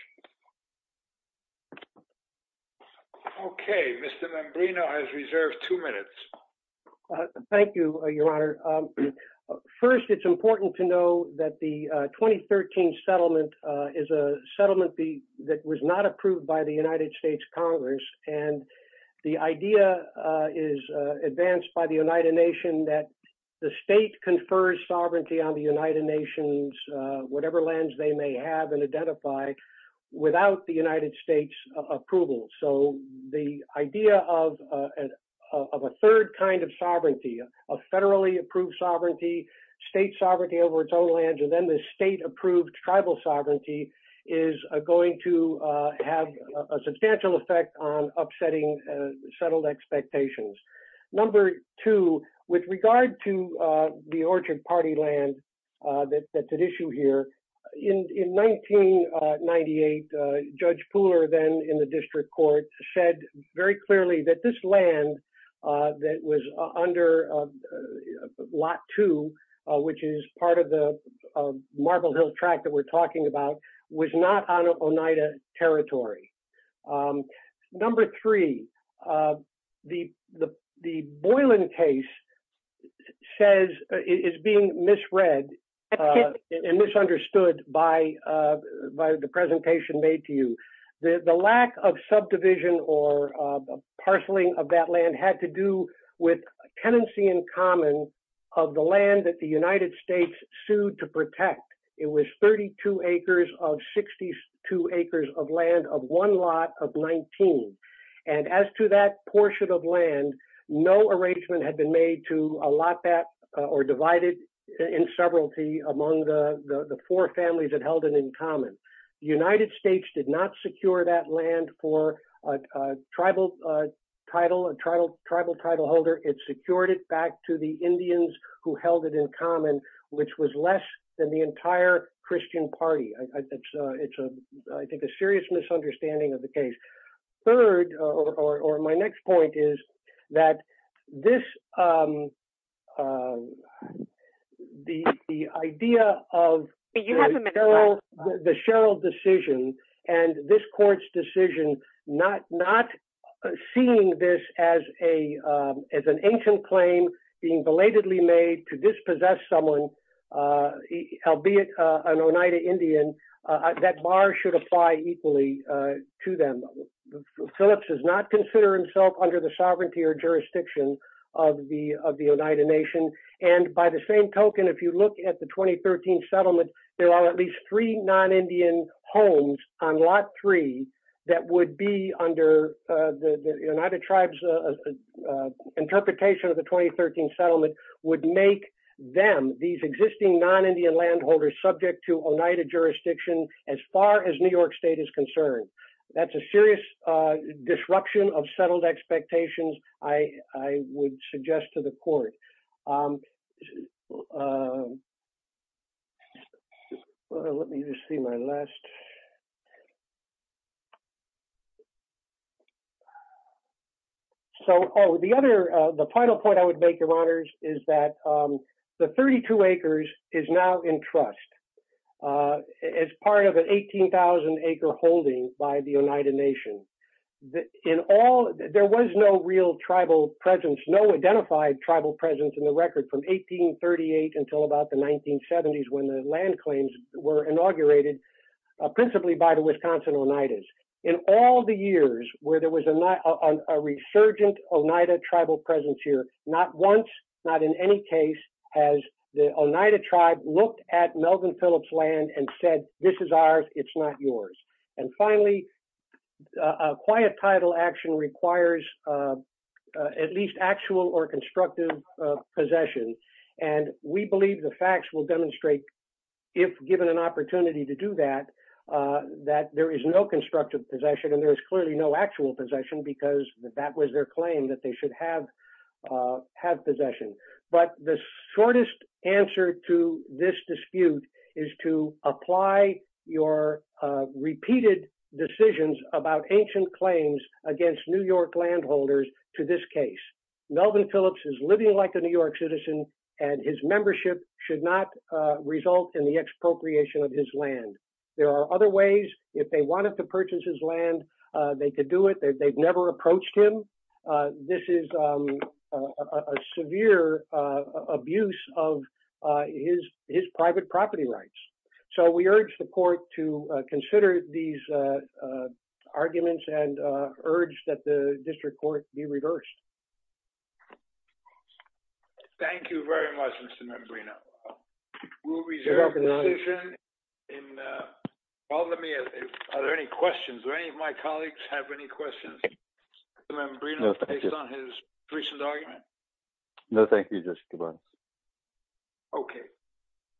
Okay. Mr. Mambrino has reserved two minutes. Thank you, Your Honor. First, it's important to know that the 2013 settlement is a settlement that was not approved by the United States Congress. And the idea is advanced by the Oneida Nation that the state confers sovereignty on the Oneida Nations, whatever lands they may have and identify, without the United States approval. So the idea of a third kind of sovereignty, a federally approved sovereignty, state sovereignty over its own lands, and then the state approved tribal sovereignty is going to have a substantial effect on upsetting settled expectations. Number two, with regard to the Orchard Party land that's at issue here, in 1998, Judge Pooler then in the district court said very clearly that this land that was under Lot 2, which is part of the Marble Hill tract that we're talking about, was not on Oneida territory. Number three, the Boylan case is being misread and misunderstood by the presentation made to you. The lack of subdivision or parceling of that land had to do with a tenancy in common of the land that the United States sued to protect. It was 32 acres of 62 acres of land of one lot of 19. And as to that portion of land, no arrangement had been made to allot that or divide it in severalty among the four families that held it in common. The United States did not secure that land for a tribal title, a tribal title holder. It secured it back to the Indians who held it in common, which was less than the entire Christian party. It's, I think, a serious misunderstanding of the case. Third, or my next point, is that the idea of the Sherrill decision and this court's decision not seeing this as an ancient claim being belatedly made to them. Phillips does not consider himself under the sovereignty or jurisdiction of the Oneida nation. And by the same token, if you look at the 2013 settlement, there are at least three non-Indian homes on lot three that would be under the Oneida tribe's interpretation of the 2013 settlement, would make them, these existing non-Indian landholders, subject to Oneida jurisdiction as far as New York state is concerned. That's a serious disruption of settled expectations, I would suggest to the court. Let me just see my last... So, oh, the other, the final point I would make, Your Honors, is that the 32 acres is now in trust. As part of an 18,000 acre holding by the Oneida nation. In all, there was no real tribal presence, no identified tribal presence in the record from 1838 until about the 1970s when the land claims were inaugurated, principally by the Wisconsin Oneidas. In all the years where there was a resurgent Oneida tribal presence here, not once, not in any case, has the Oneida tribe looked at Melvin Phillips' land and said, this is ours, it's not yours. And finally, a quiet title action requires at least actual or constructive possession. And we believe the facts will demonstrate, if given an opportunity to do that, that there is no constructive possession and there is clearly no actual possession because that was their claim that they should have possession. But the shortest answer to this dispute is to apply your repeated decisions about ancient claims against New York landholders to this case. Melvin Phillips is living like a New York citizen and his membership should not result in the expropriation of his land. There are other ways. If they wanted to purchase his land, they could do it. They've never approached him. This is a severe abuse of his private property rights. So we urge the court to consider these arguments and urge that the district court be reversed. Thank you very much, Mr. Mebrino. We'll reserve the decision. Are there any questions? Do any members have any questions? No, thank you. Okay.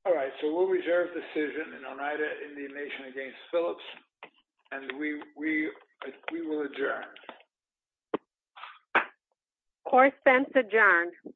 All right. So we'll reserve the decision in Oneida Indian Nation against Phillips and we will adjourn. Court is adjourned.